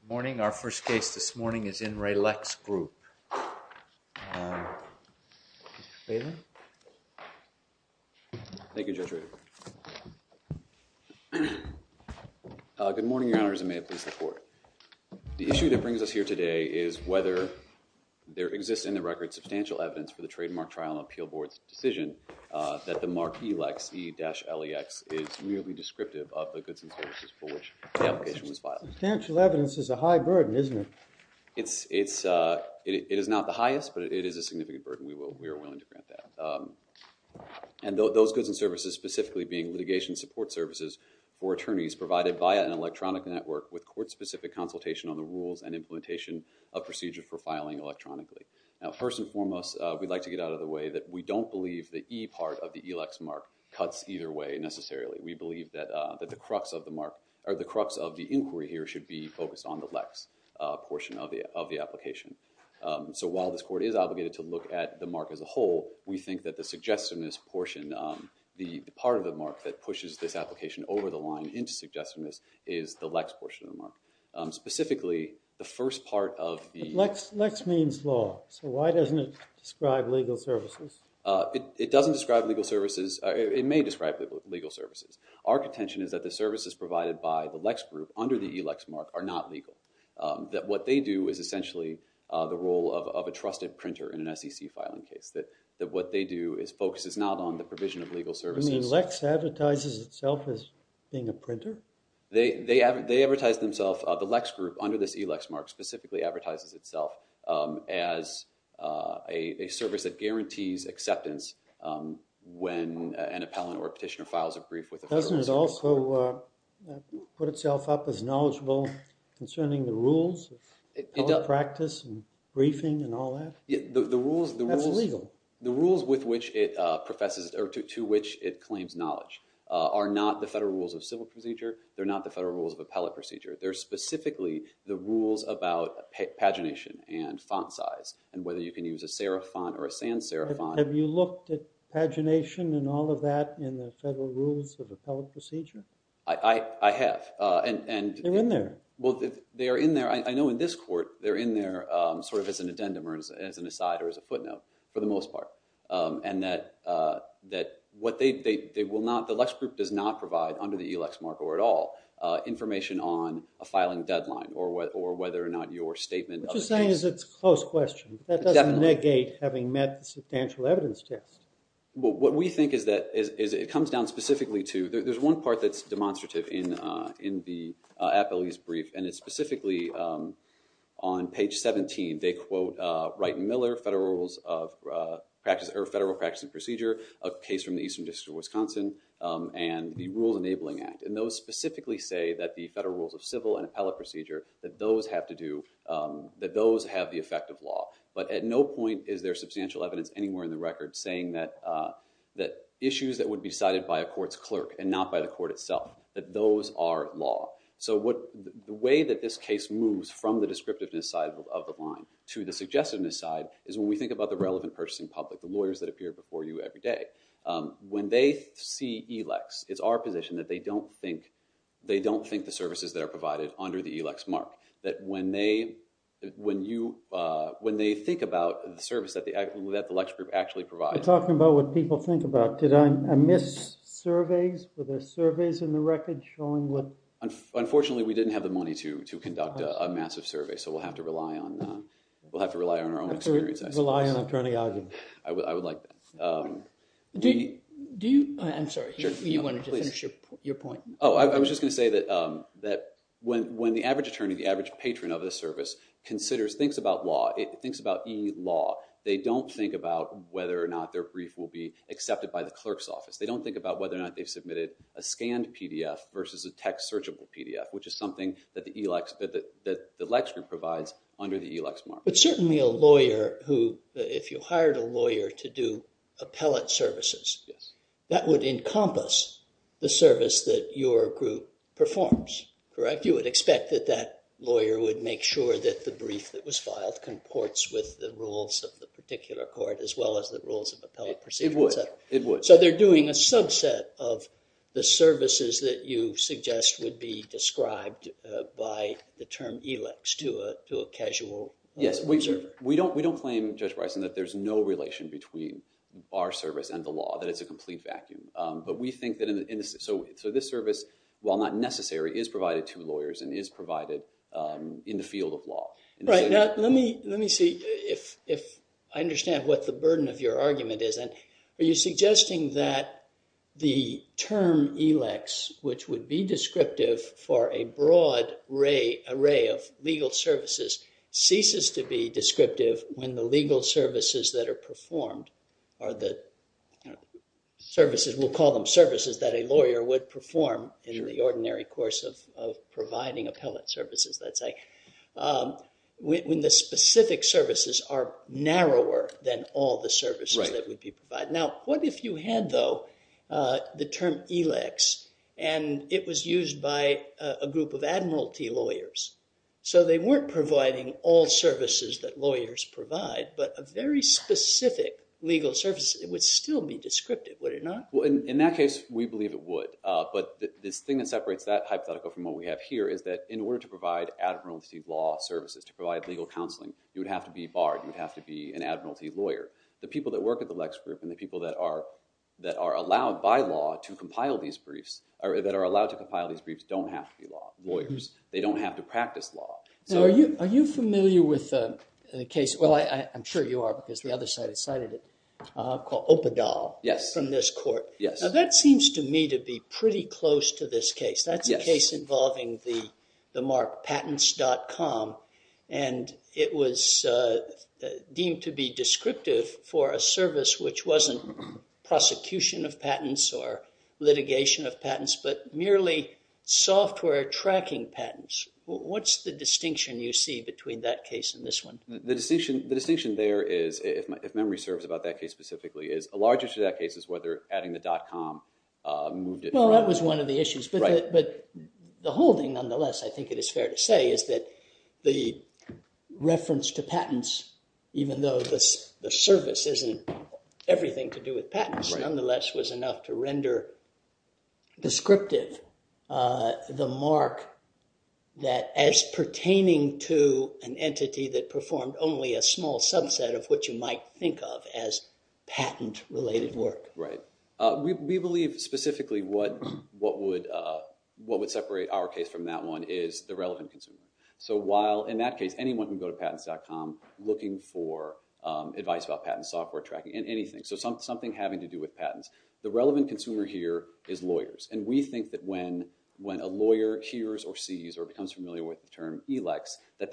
Good morning. Our first case this morning is in Rae Lex Group. Thank you, Judge Rader. Good morning, Your Honors, and may it please the Court. The issue that brings us here today is whether there exists in the record substantial evidence for the trademark trial and appeal board's decision that the Mark E. Lex E-LEX is merely descriptive of the goods and services for which the application was filed. Substantial evidence is a high burden, isn't it? It is not the highest, but it is a significant burden. We are willing to grant that. And those goods and services specifically being litigation support services for attorneys provided via an electronic network with court-specific consultation on the rules and implementation of procedure for filing electronically. Now, first and foremost, we'd like to get out of the way that we don't believe the E part of the E-LEX mark cuts either way necessarily. We believe that the crux of the inquiry here should be focused on the Lex portion of the application. So while this Court is obligated to look at the mark as a whole, we think that the suggestiveness portion, the part of the mark that pushes this application over the line into suggestiveness is the Lex portion of the mark. Lex means law, so why doesn't it describe legal services? It doesn't describe legal services. It may describe legal services. Our contention is that the services provided by the Lex group under the E-LEX mark are not legal. That what they do is essentially the role of a trusted printer in an SEC filing case. That what they do focuses not on the provision of legal services. You mean Lex advertises itself as being a printer? They advertise themselves, the Lex group under this E-LEX mark specifically advertises itself as a service that guarantees acceptance when an appellant or a petitioner files a brief with a federal prosecutor. Doesn't it also put itself up as knowledgeable concerning the rules of appellate practice and briefing and all that? That's legal. The rules with which it professes or to which it claims knowledge are not the federal rules of civil procedure. They're not the federal rules of appellate procedure. They're specifically the rules about pagination and font size and whether you can use a serif font or a sans serif font. Have you looked at pagination and all of that in the federal rules of appellate procedure? I have. They're in there. Well, they are in there. I know in this court they're in there sort of as an addendum or as an aside or as a footnote for the most part. And that what they will not, the Lex group does not provide under the E-LEX mark or at all information on a filing deadline or whether or not your statement. What you're saying is it's a close question. That doesn't negate having met the substantial evidence test. What we think is that it comes down specifically to, there's one part that's demonstrative in the appellee's brief, and it's specifically on page 17. They quote Wright and Miller, federal rules of practice or federal practice and procedure, a case from the Eastern District of Wisconsin, and the Rules Enabling Act. And those specifically say that the federal rules of civil and appellate procedure, that those have to do, that those have the effect of law. But at no point is there substantial evidence anywhere in the record saying that issues that would be decided by a court's clerk and not by the court itself, that those are law. So the way that this case moves from the descriptiveness side of the line to the suggestiveness side is when we think about the relevant person in public, the lawyers that appear before you every day. When they see ELEX, it's our position that they don't think the services that are provided under the ELEX mark. That when they think about the service that the ELEX group actually provides. We're talking about what people think about. Did I miss surveys? Were there surveys in the record showing what? Unfortunately, we didn't have the money to conduct a massive survey, so we'll have to rely on our own experience. Rely on attorney arguments. I would like that. Do you, I'm sorry, you wanted to finish your point. Oh, I was just going to say that when the average attorney, the average patron of a service considers, thinks about law, thinks about E-law, they don't think about whether or not their brief will be accepted by the clerk's office. They don't think about whether or not they've submitted a scanned PDF versus a text searchable PDF, which is something that the ELEX group provides under the ELEX mark. But certainly a lawyer who, if you hired a lawyer to do appellate services, that would encompass the service that your group performs, correct? You would expect that that lawyer would make sure that the brief that was filed comports with the rules of the particular court as well as the rules of appellate proceedings. It would. So they're doing a subset of the services that you suggest would be described by the term ELEX to a casual observer. Yes, we don't claim, Judge Bryson, that there's no relation between our service and the law, that it's a complete vacuum. But we think that, so this service, while not necessary, is provided to lawyers and is provided in the field of law. Right, now let me see if I understand what the burden of your argument is. Are you suggesting that the term ELEX, which would be descriptive for a broad array of legal services, ceases to be descriptive when the legal services that are performed are the services, we'll call them services, that a lawyer would perform in the ordinary course of providing appellate services, let's say? When the specific services are narrower than all the services that would be provided. Now, what if you had, though, the term ELEX and it was used by a group of admiralty lawyers? So they weren't providing all services that lawyers provide, but a very specific legal service, it would still be descriptive, would it not? Well, in that case, we believe it would. But this thing that separates that hypothetical from what we have here is that in order to provide admiralty law services, to provide legal counseling, you would have to be barred. You would have to be an admiralty lawyer. The people that work at the ELEX group and the people that are allowed by law to compile these briefs, or that are allowed to compile these briefs, don't have to be lawyers. They don't have to practice law. Now, are you familiar with the case—well, I'm sure you are because the other side has cited it—called Opadol from this court? Yes. Now, that seems to me to be pretty close to this case. That's a case involving the mark patents.com, and it was deemed to be descriptive for a service which wasn't prosecution of patents or litigation of patents, but merely software tracking patents. What's the distinction you see between that case and this one? The distinction there is—if memory serves about that case specifically—is a large issue of that case is whether adding the .com moved it around. Well, that was one of the issues. Right. But the whole thing, nonetheless, I think it is fair to say, is that the reference to patents, even though the service isn't everything to do with patents, nonetheless was enough to render descriptive the mark that as pertaining to an entity that performed only a small subset of what you might think of as patent-related work. Right. We believe specifically what would separate our case from that one is the relevant consumer. So while, in that case, anyone can go to patents.com looking for advice about patent software tracking and anything, so something having to do with patents, the relevant consumer here is lawyers. And we think that when a lawyer hears or sees or becomes familiar with the term e-lex, that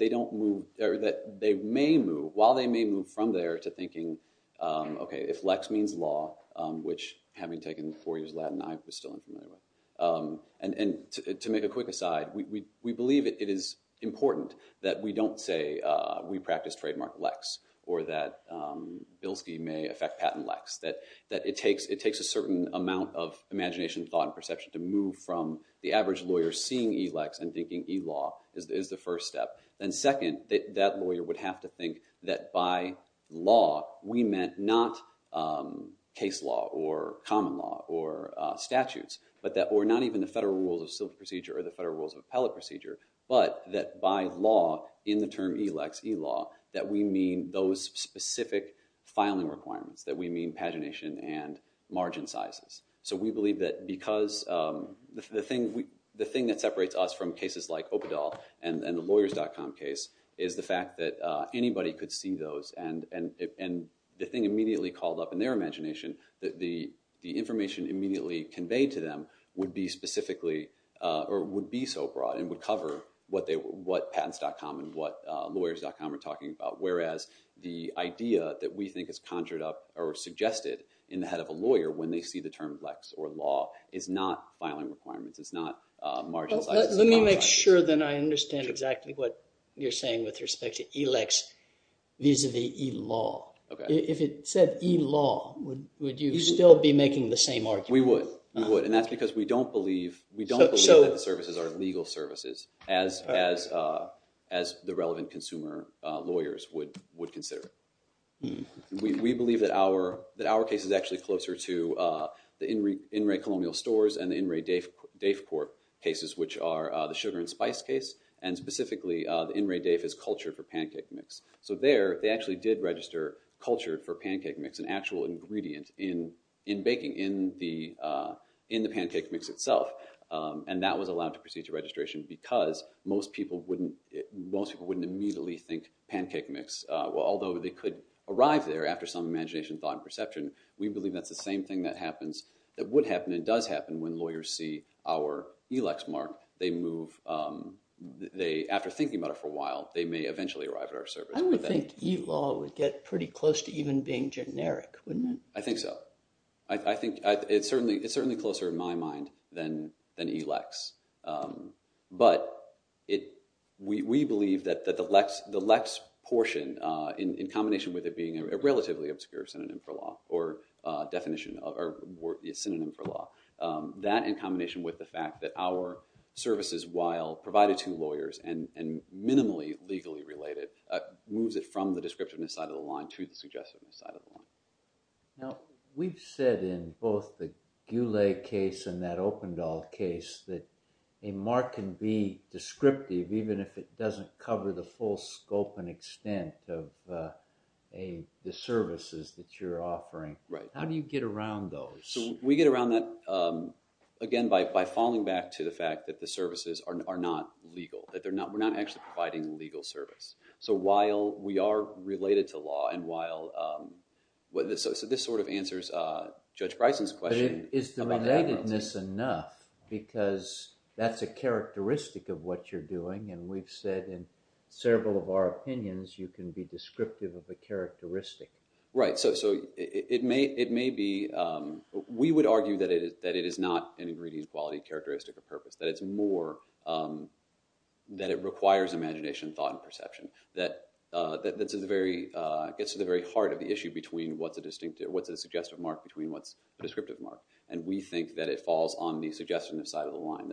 they may move, while they may move from there, to thinking, okay, if lex means law, which having taken four years of Latin, I was still unfamiliar with. And to make a quick aside, we believe it is important that we don't say we practice trademark lex, or that Bilski may affect patent lex. That it takes a certain amount of imagination, thought, and perception to move from the average lawyer seeing e-lex and thinking e-law is the first step. And second, that lawyer would have to think that by law, we meant not case law or common law or statutes, or not even the federal rules of civil procedure or the federal rules of appellate procedure, but that by law, in the term e-lex, e-law, that we mean those specific filing requirements, that we mean pagination and margin sizes. So we believe that because the thing that separates us from cases like Opadol and the lawyers.com case is the fact that anybody could see those, and the thing immediately called up in their imagination, the information immediately conveyed to them would be specifically, or would be so broad, and would cover what patents.com and what lawyers.com are talking about. Whereas the idea that we think is conjured up or suggested in the head of a lawyer when they see the term lex or law is not filing requirements. It's not margin sizes. Let me make sure that I understand exactly what you're saying with respect to e-lex vis-a-vis e-law. If it said e-law, would you still be making the same argument? We would. We would. And that's because we don't believe that the services are legal services, as the relevant consumer lawyers would consider it. We believe that our case is actually closer to the In-Ray Colonial Stores and the In-Ray Dave Court cases, which are the sugar and spice case, and specifically the In-Ray Dave is cultured for pancake mix. So there, they actually did register culture for pancake mix, an actual ingredient in baking, in the pancake mix itself. And that was allowed to proceed to registration because most people wouldn't immediately think pancake mix, although they could arrive there after some imagination, thought, and perception. We believe that's the same thing that happens, that would happen and does happen when lawyers see our e-lex mark. They move, after thinking about it for a while, they may eventually arrive at our service. I would think e-law would get pretty close to even being generic, wouldn't it? I think so. I think it's certainly closer in my mind than e-lex. But we believe that the lex portion, in combination with it being a relatively obscure synonym for law, or definition, or synonym for law, that in combination with the fact that our services, while provided to lawyers and minimally legally related, moves it from the descriptiveness side of the line to the suggestiveness side of the line. Now, we've said in both the Goulet case and that Opendahl case that a mark can be descriptive even if it doesn't cover the full scope and extent of the services that you're offering. How do you get around those? We get around that, again, by falling back to the fact that the services are not legal, that we're not actually providing legal service. So while we are related to law, and while—so this sort of answers Judge Bryson's question. But is the relatedness enough? Because that's a characteristic of what you're doing, and we've said in several of our opinions you can be descriptive of a characteristic. Right. So it may be—we would argue that it is not an ingredient, quality, characteristic, or purpose. That it's more—that it requires imagination, thought, and perception. That gets to the very heart of the issue between what's a suggestive mark between what's a descriptive mark. And we think that it falls on the suggestiveness side of the line.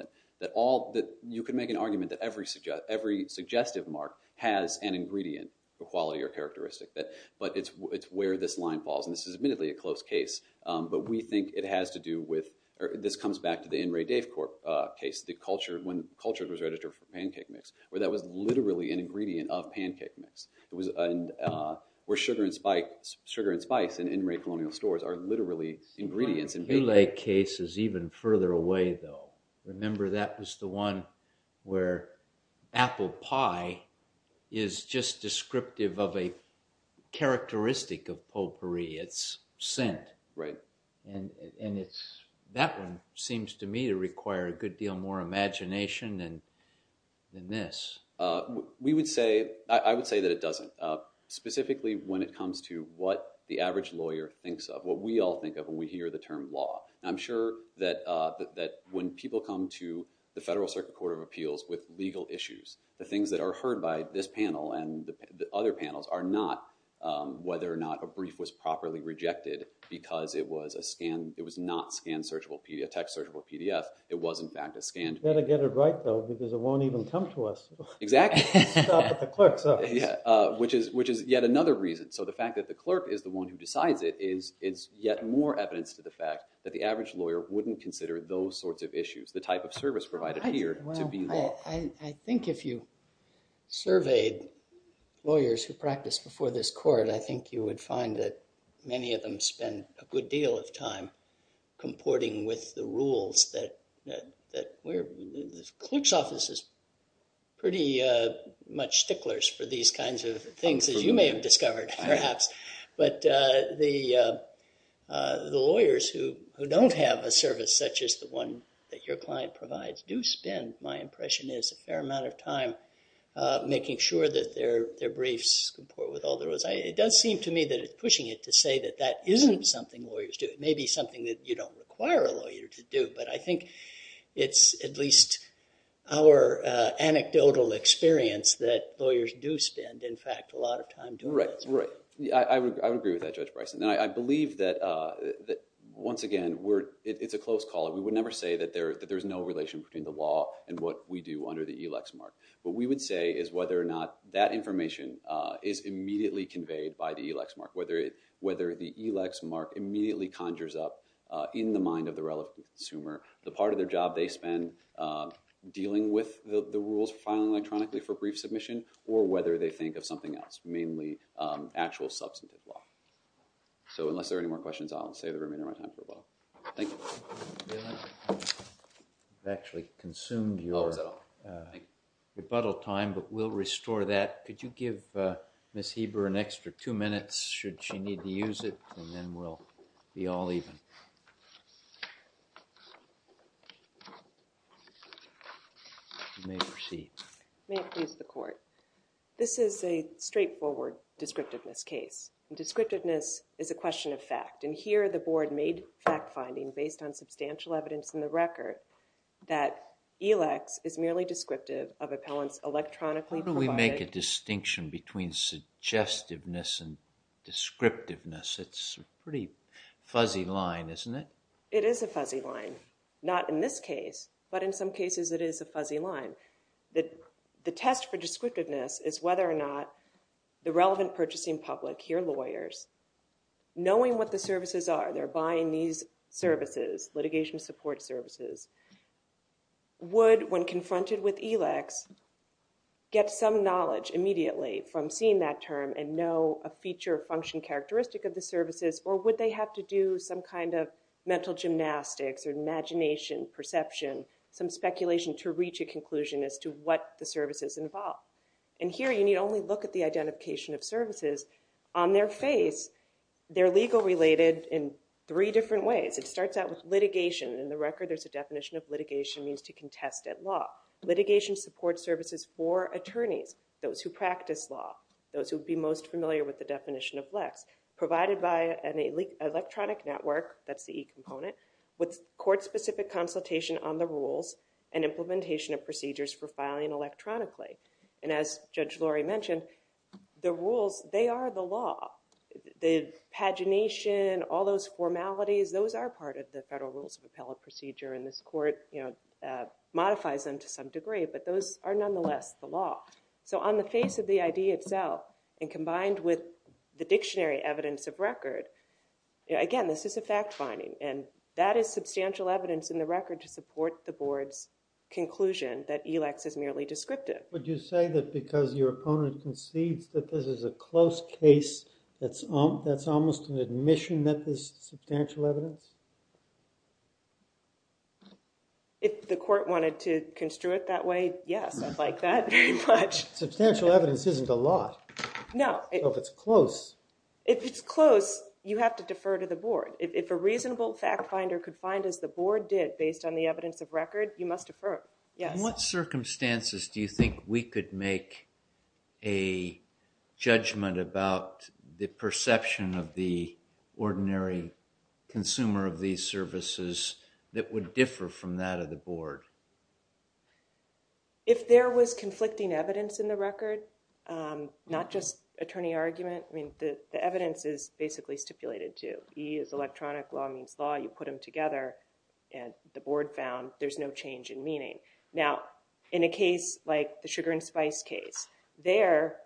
You could make an argument that every suggestive mark has an ingredient, a quality, or characteristic. But it's where this line falls, and this is admittedly a close case. But we think it has to do with—this comes back to the N. Ray Dave case, when culture was registered for pancake mix, where that was literally an ingredient of pancake mix. Where sugar and spice in N. Ray Colonial stores are literally ingredients in pancake mix. The Hew Lake case is even further away, though. Remember, that was the one where apple pie is just descriptive of a characteristic of potpourri. It's scent. Right. And it's—that one seems to me to require a good deal more imagination than this. We would say—I would say that it doesn't. Specifically when it comes to what the average lawyer thinks of, what we all think of when we hear the term law. I'm sure that when people come to the Federal Circuit Court of Appeals with legal issues, the things that are heard by this panel and the other panels are not whether or not a brief was properly rejected because it was a scanned—it was not scanned searchable PDF—text searchable PDF. It was, in fact, a scanned PDF. You better get it right, though, because it won't even come to us. Exactly. Stop at the clerk's office. Yeah, which is yet another reason. So the fact that the clerk is the one who decides it is yet more evidence to the fact that the average lawyer wouldn't consider those sorts of issues, the type of service provided here, to be law. I think if you surveyed lawyers who practiced before this court, I think you would find that many of them spend a good deal of time comporting with the rules that we're—the clerk's office is pretty much sticklers for these kinds of things, as you may have discovered, perhaps. But the lawyers who don't have a service such as the one that your client provides do spend, my impression is, a fair amount of time making sure that their briefs comport with all the rules. It does seem to me that it's pushing it to say that that isn't something lawyers do. It may be something that you don't require a lawyer to do, but I think it's at least our anecdotal experience that lawyers do spend, in fact, a lot of time doing those things. I would agree with that, Judge Bryson. And I believe that, once again, it's a close call. We would never say that there's no relation between the law and what we do under the ELEX mark. What we would say is whether or not that information is immediately conveyed by the ELEX mark, whether the ELEX mark immediately conjures up in the mind of the relevant consumer the part of their job they spend dealing with the rules, filing electronically for brief submission, or whether they think of something else, mainly actual substantive law. So unless there are any more questions, I'll save the remainder of my time for rebuttal. Thank you. I've actually consumed your rebuttal time, but we'll restore that. Could you give Ms. Heber an extra two minutes, should she need to use it, and then we'll be all even. You may proceed. May it please the court. This is a straightforward descriptiveness case. Descriptiveness is a question of fact. And here the board made fact-finding based on substantial evidence in the record that ELEX is merely descriptive of appellants electronically provided. How do we make a distinction between suggestiveness and descriptiveness? It's a pretty fuzzy line, isn't it? It is a fuzzy line. Not in this case, but in some cases it is a fuzzy line. The test for descriptiveness is whether or not the relevant purchasing public, here lawyers, knowing what the services are, they're buying these services, litigation support services, would, when confronted with ELEX, get some knowledge immediately from seeing that term and know a feature or function characteristic of the services, or would they have to do some kind of mental gymnastics or imagination, perception, some speculation to reach a conclusion as to what the services involve. And here you need only look at the identification of services. On their face, they're legal-related in three different ways. It starts out with litigation. In the record there's a definition of litigation means to contest at law. Litigation support services for attorneys, those who practice law, those who would be most familiar with the definition of ELEX, provided by an electronic network, that's the E component, with court-specific consultation on the rules and implementation of procedures for filing electronically. And as Judge Lori mentioned, the rules, they are the law. The pagination, all those formalities, those are part of the Federal Rules of Appellate Procedure, and this court modifies them to some degree, but those are nonetheless the law. So on the face of the idea itself, and combined with the dictionary evidence of record, again, this is a fact-finding, and that is substantial evidence in the record to support the board's conclusion that ELEX is merely descriptive. Would you say that because your opponent concedes that this is a close case, that's almost an admission that this is substantial evidence? If the court wanted to construe it that way, yes, I'd like that very much. Substantial evidence isn't a lot. No. If it's close. If it's close, you have to defer to the board. If a reasonable fact-finder could find, as the board did, based on the evidence of record, you must defer. In what circumstances do you think we could make a judgment about the perception of the ordinary consumer of these services that would differ from that of the board? If there was conflicting evidence in the record, not just attorney argument, I mean, the evidence is basically stipulated, too. E is electronic, law means law. You put them together, and the board found there's no change in meaning. Now, in a case like the sugar and spice case, there,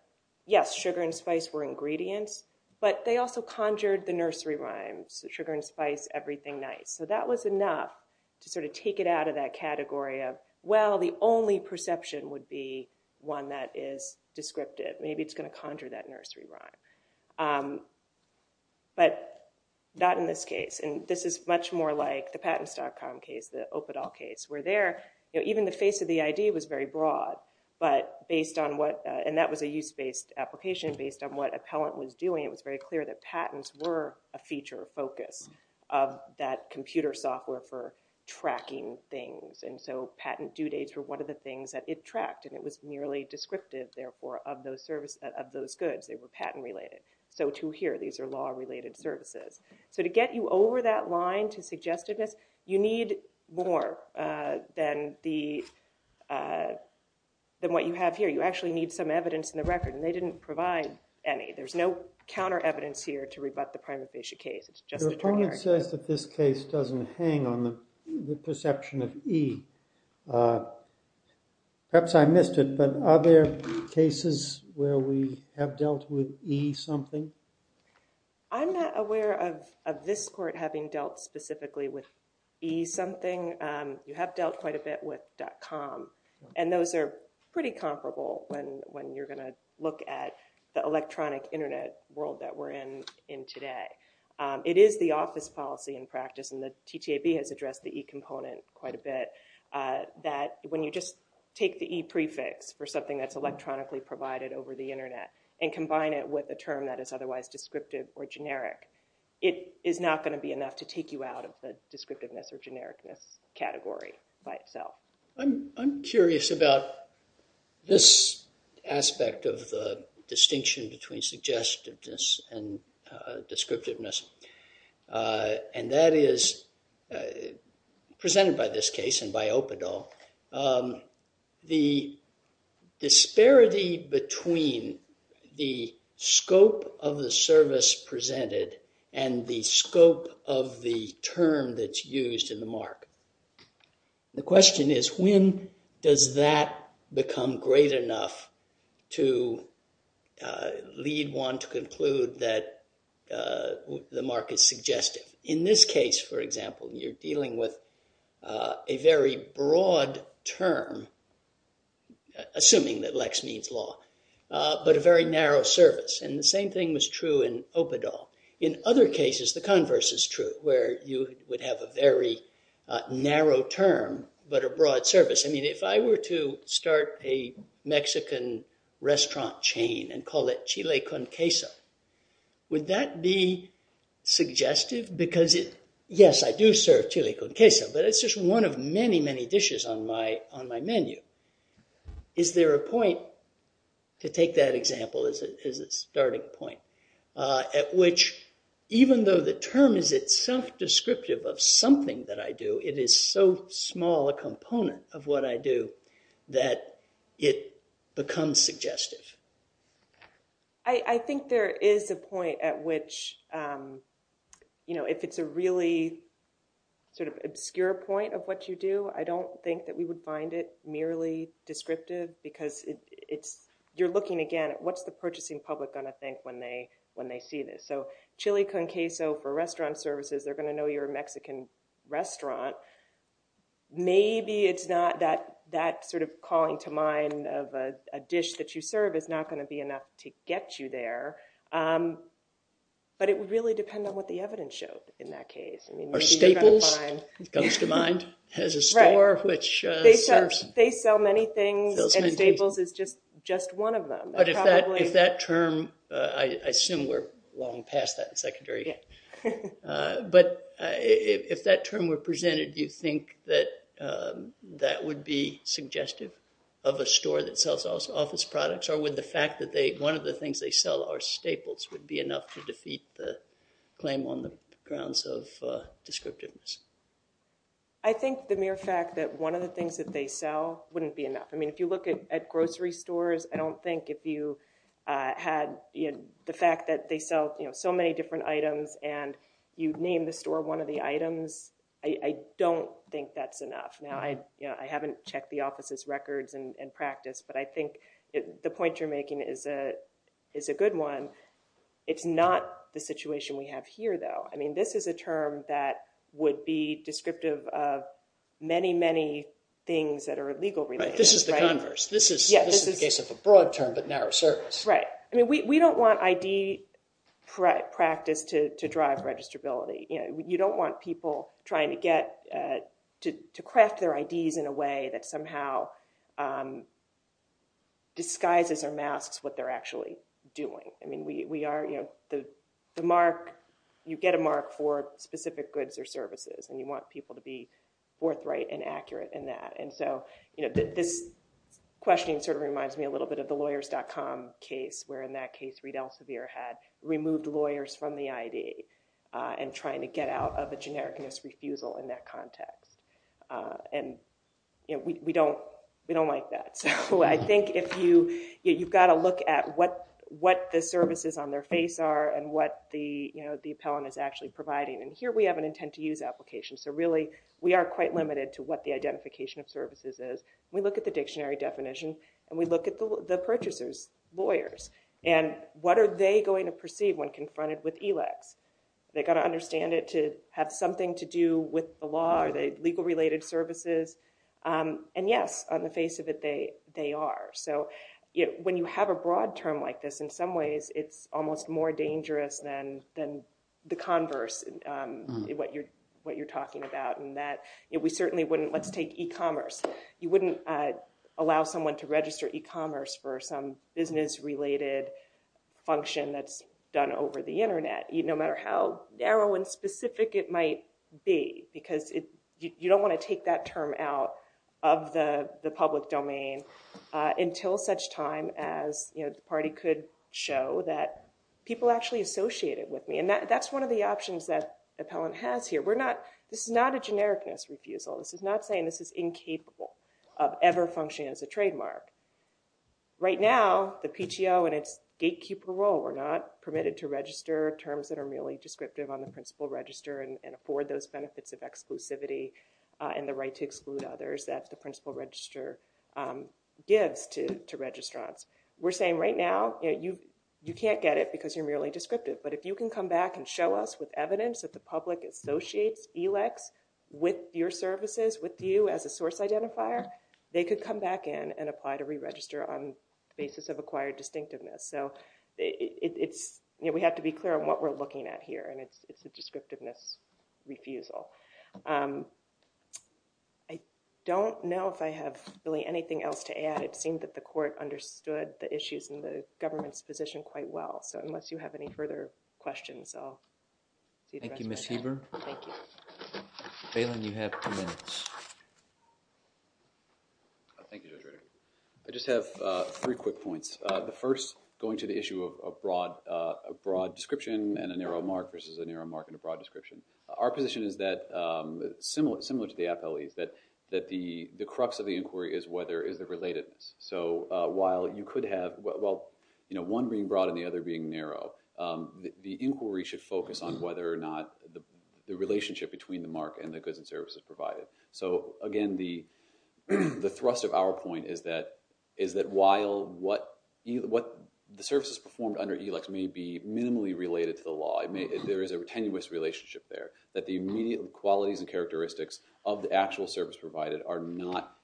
yes, sugar and spice were ingredients, but they also conjured the nursery rhymes, sugar and spice, everything nice. So that was enough to sort of take it out of that category of, well, the only perception would be one that is descriptive. Maybe it's going to conjure that nursery rhyme. But not in this case. And this is much more like the patents.com case, the Opadol case, where there, even the face of the idea was very broad. But based on what, and that was a use-based application, based on what appellant was doing, it was very clear that patents were a feature focus of that computer software for tracking things. And so patent due dates were one of the things that it tracked, and it was merely descriptive, therefore, of those goods. Sometimes they were patent-related. So, too, here, these are law-related services. So to get you over that line to suggestiveness, you need more than what you have here. You actually need some evidence in the record, and they didn't provide any. There's no counter-evidence here to rebut the prima facie case. It's just a terminology. Your opponent says that this case doesn't hang on the perception of E. Perhaps I missed it, but are there cases where we have dealt with E-something? I'm not aware of this court having dealt specifically with E-something. You have dealt quite a bit with .com, and those are pretty comparable when you're going to look at the electronic Internet world that we're in today. It is the office policy in practice, and the TTAB has addressed the E component quite a bit, that when you just take the E prefix for something that's electronically provided over the Internet and combine it with a term that is otherwise descriptive or generic, it is not going to be enough to take you out of the descriptiveness or genericness category by itself. I'm curious about this aspect of the distinction between suggestiveness and descriptiveness, and that is presented by this case and by Opadol, the disparity between the scope of the service presented and the scope of the term that's used in the mark. The question is, when does that become great enough to lead one to conclude that the mark is suggestive? In this case, for example, you're dealing with a very broad term, assuming that lex means law, but a very narrow service, and the same thing was true in Opadol. In other cases, the converse is true, where you would have a very narrow term but a broad service. If I were to start a Mexican restaurant chain and call it Chile con Queso, would that be suggestive? Yes, I do serve Chile con Queso, but it's just one of many, many dishes on my menu. Is there a point, to take that example as a starting point, at which even though the term is itself descriptive of something that I do, it is so small a component of what I do that it becomes suggestive? I think there is a point at which, you know, if it's a really sort of obscure point of what you do, I don't think that we would find it merely descriptive, because you're looking again at what's the purchasing public going to think when they see this. So, Chile con Queso for restaurant services, they're going to know you're a Mexican restaurant. Maybe it's not that sort of calling to mind of a dish that you serve is not going to be enough to get you there, but it would really depend on what the evidence showed in that case. Or Staples comes to mind, has a store which serves... They sell many things, and Staples is just one of them. But if that term, I assume we're long past that in secondary, but if that term were presented, do you think that that would be suggestive of a store that sells office products, or would the fact that one of the things they sell are Staples would be enough to defeat the claim on the grounds of descriptiveness? I think the mere fact that one of the things that they sell wouldn't be enough. I mean, if you look at grocery stores, I don't think if you had the fact that they sell so many different items and you name the store one of the items, I don't think that's enough. Now, I haven't checked the office's records and practice, but I think the point you're making is a good one. It's not the situation we have here, though. I mean, this is a term that would be descriptive of many, many things that are legal related. This is the converse. This is the case of a broad term but narrow surface. Right. I mean, we don't want ID practice to drive registrability. You don't want people trying to craft their IDs in a way that somehow disguises or masks what they're actually doing. I mean, you get a mark for specific goods or services, and you want people to be forthright and accurate in that. And so this question sort of reminds me a little bit of the lawyers.com case, where in that case Reid Elsevier had removed lawyers from the ID and trying to get out of a generic misrefusal in that context. And we don't like that. So I think you've got to look at what the services on their face are and what the appellant is actually providing. And here we have an intent to use application, so really we are quite limited to what the identification of services is. We look at the dictionary definition, and we look at the purchasers, lawyers, and what are they going to perceive when confronted with ELEX? Are they going to understand it to have something to do with the law? Are they legal related services? And yes, on the face of it, they are. So when you have a broad term like this, in some ways it's almost more dangerous than the converse, what you're talking about, in that we certainly wouldn't – let's take e-commerce. You wouldn't allow someone to register e-commerce for some business-related function that's done over the Internet, no matter how narrow and specific it might be, because you don't want to take that term out of the public domain until such time as the party could show that people actually associate it with me. And that's one of the options that appellant has here. This is not a generic misrefusal. This is not saying this is incapable of ever functioning as a trademark. Right now, the PTO and its gatekeeper role are not permitted to register terms that are merely descriptive on the principal register and afford those benefits of exclusivity and the right to exclude others that the principal register gives to registrants. We're saying right now, you can't get it because you're merely descriptive, but if you can come back and show us with evidence that the public associates ELEX with your services, with you as a source identifier, they could come back in and apply to re-register on the basis of acquired distinctiveness. So it's – we have to be clear on what we're looking at here, and it's a descriptiveness refusal. I don't know if I have really anything else to add. It seemed that the court understood the issues in the government's position quite well. So unless you have any further questions, I'll see the rest of my time. Thank you, Ms. Heber. Thank you. Bailyn, you have two minutes. Thank you, Judge Ritter. I just have three quick points. The first, going to the issue of broad description and a narrow mark versus a narrow mark and a broad description. Our position is that, similar to the appellee's, that the crux of the inquiry is whether – is the relatedness. So while you could have – well, you know, one being broad and the other being narrow, the inquiry should focus on whether or not the relationship between the mark and the goods and services provided. So, again, the thrust of our point is that while what – the services performed under ELEX may be minimally related to the law, there is a tenuous relationship there, that the immediate qualities and characteristics of the actual service provided are not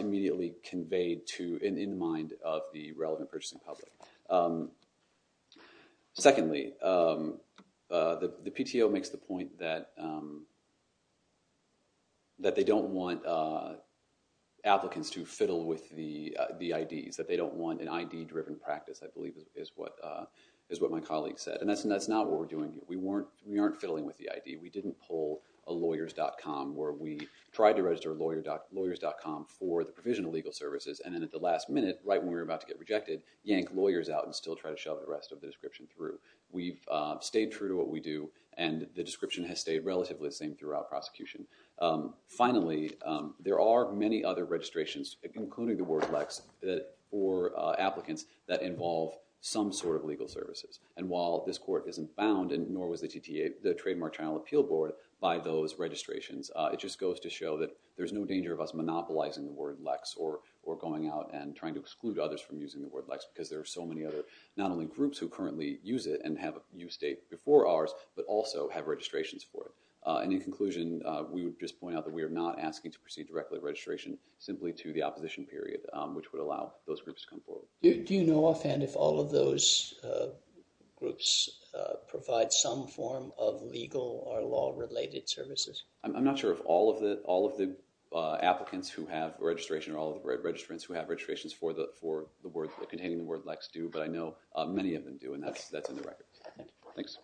immediately conveyed to and in mind of the relevant purchasing public. Secondly, the PTO makes the point that they don't want applicants to fiddle with the IDs, that they don't want an ID-driven practice, I believe is what my colleague said. And that's not what we're doing here. We weren't – we aren't fiddling with the ID. We didn't pull a lawyers.com where we tried to register lawyers.com for the provision of legal services, and then at the last minute, right when we were about to get rejected, yank lawyers out and still try to shove the rest of the description through. We've stayed true to what we do, and the description has stayed relatively the same throughout prosecution. Finally, there are many other registrations, including the word LEX, for applicants that involve some sort of legal services. And while this court isn't bound, and nor was the TTA, the Trademark Channel Appeal Board, by those registrations, it just goes to show that there's no danger of us monopolizing the word LEX or going out and trying to exclude others from using the word LEX because there are so many other, not only groups who currently use it and have a use date before ours, but also have registrations for it. And in conclusion, we would just point out that we are not asking to proceed directly with registration, simply to the opposition period, which would allow those groups to come forward. Do you know offhand if all of those groups provide some form of legal or law-related services? I'm not sure if all of the applicants who have registration or all of the registrants who have registrations for containing the word LEX do, but I know many of them do, and that's in the records. Thanks.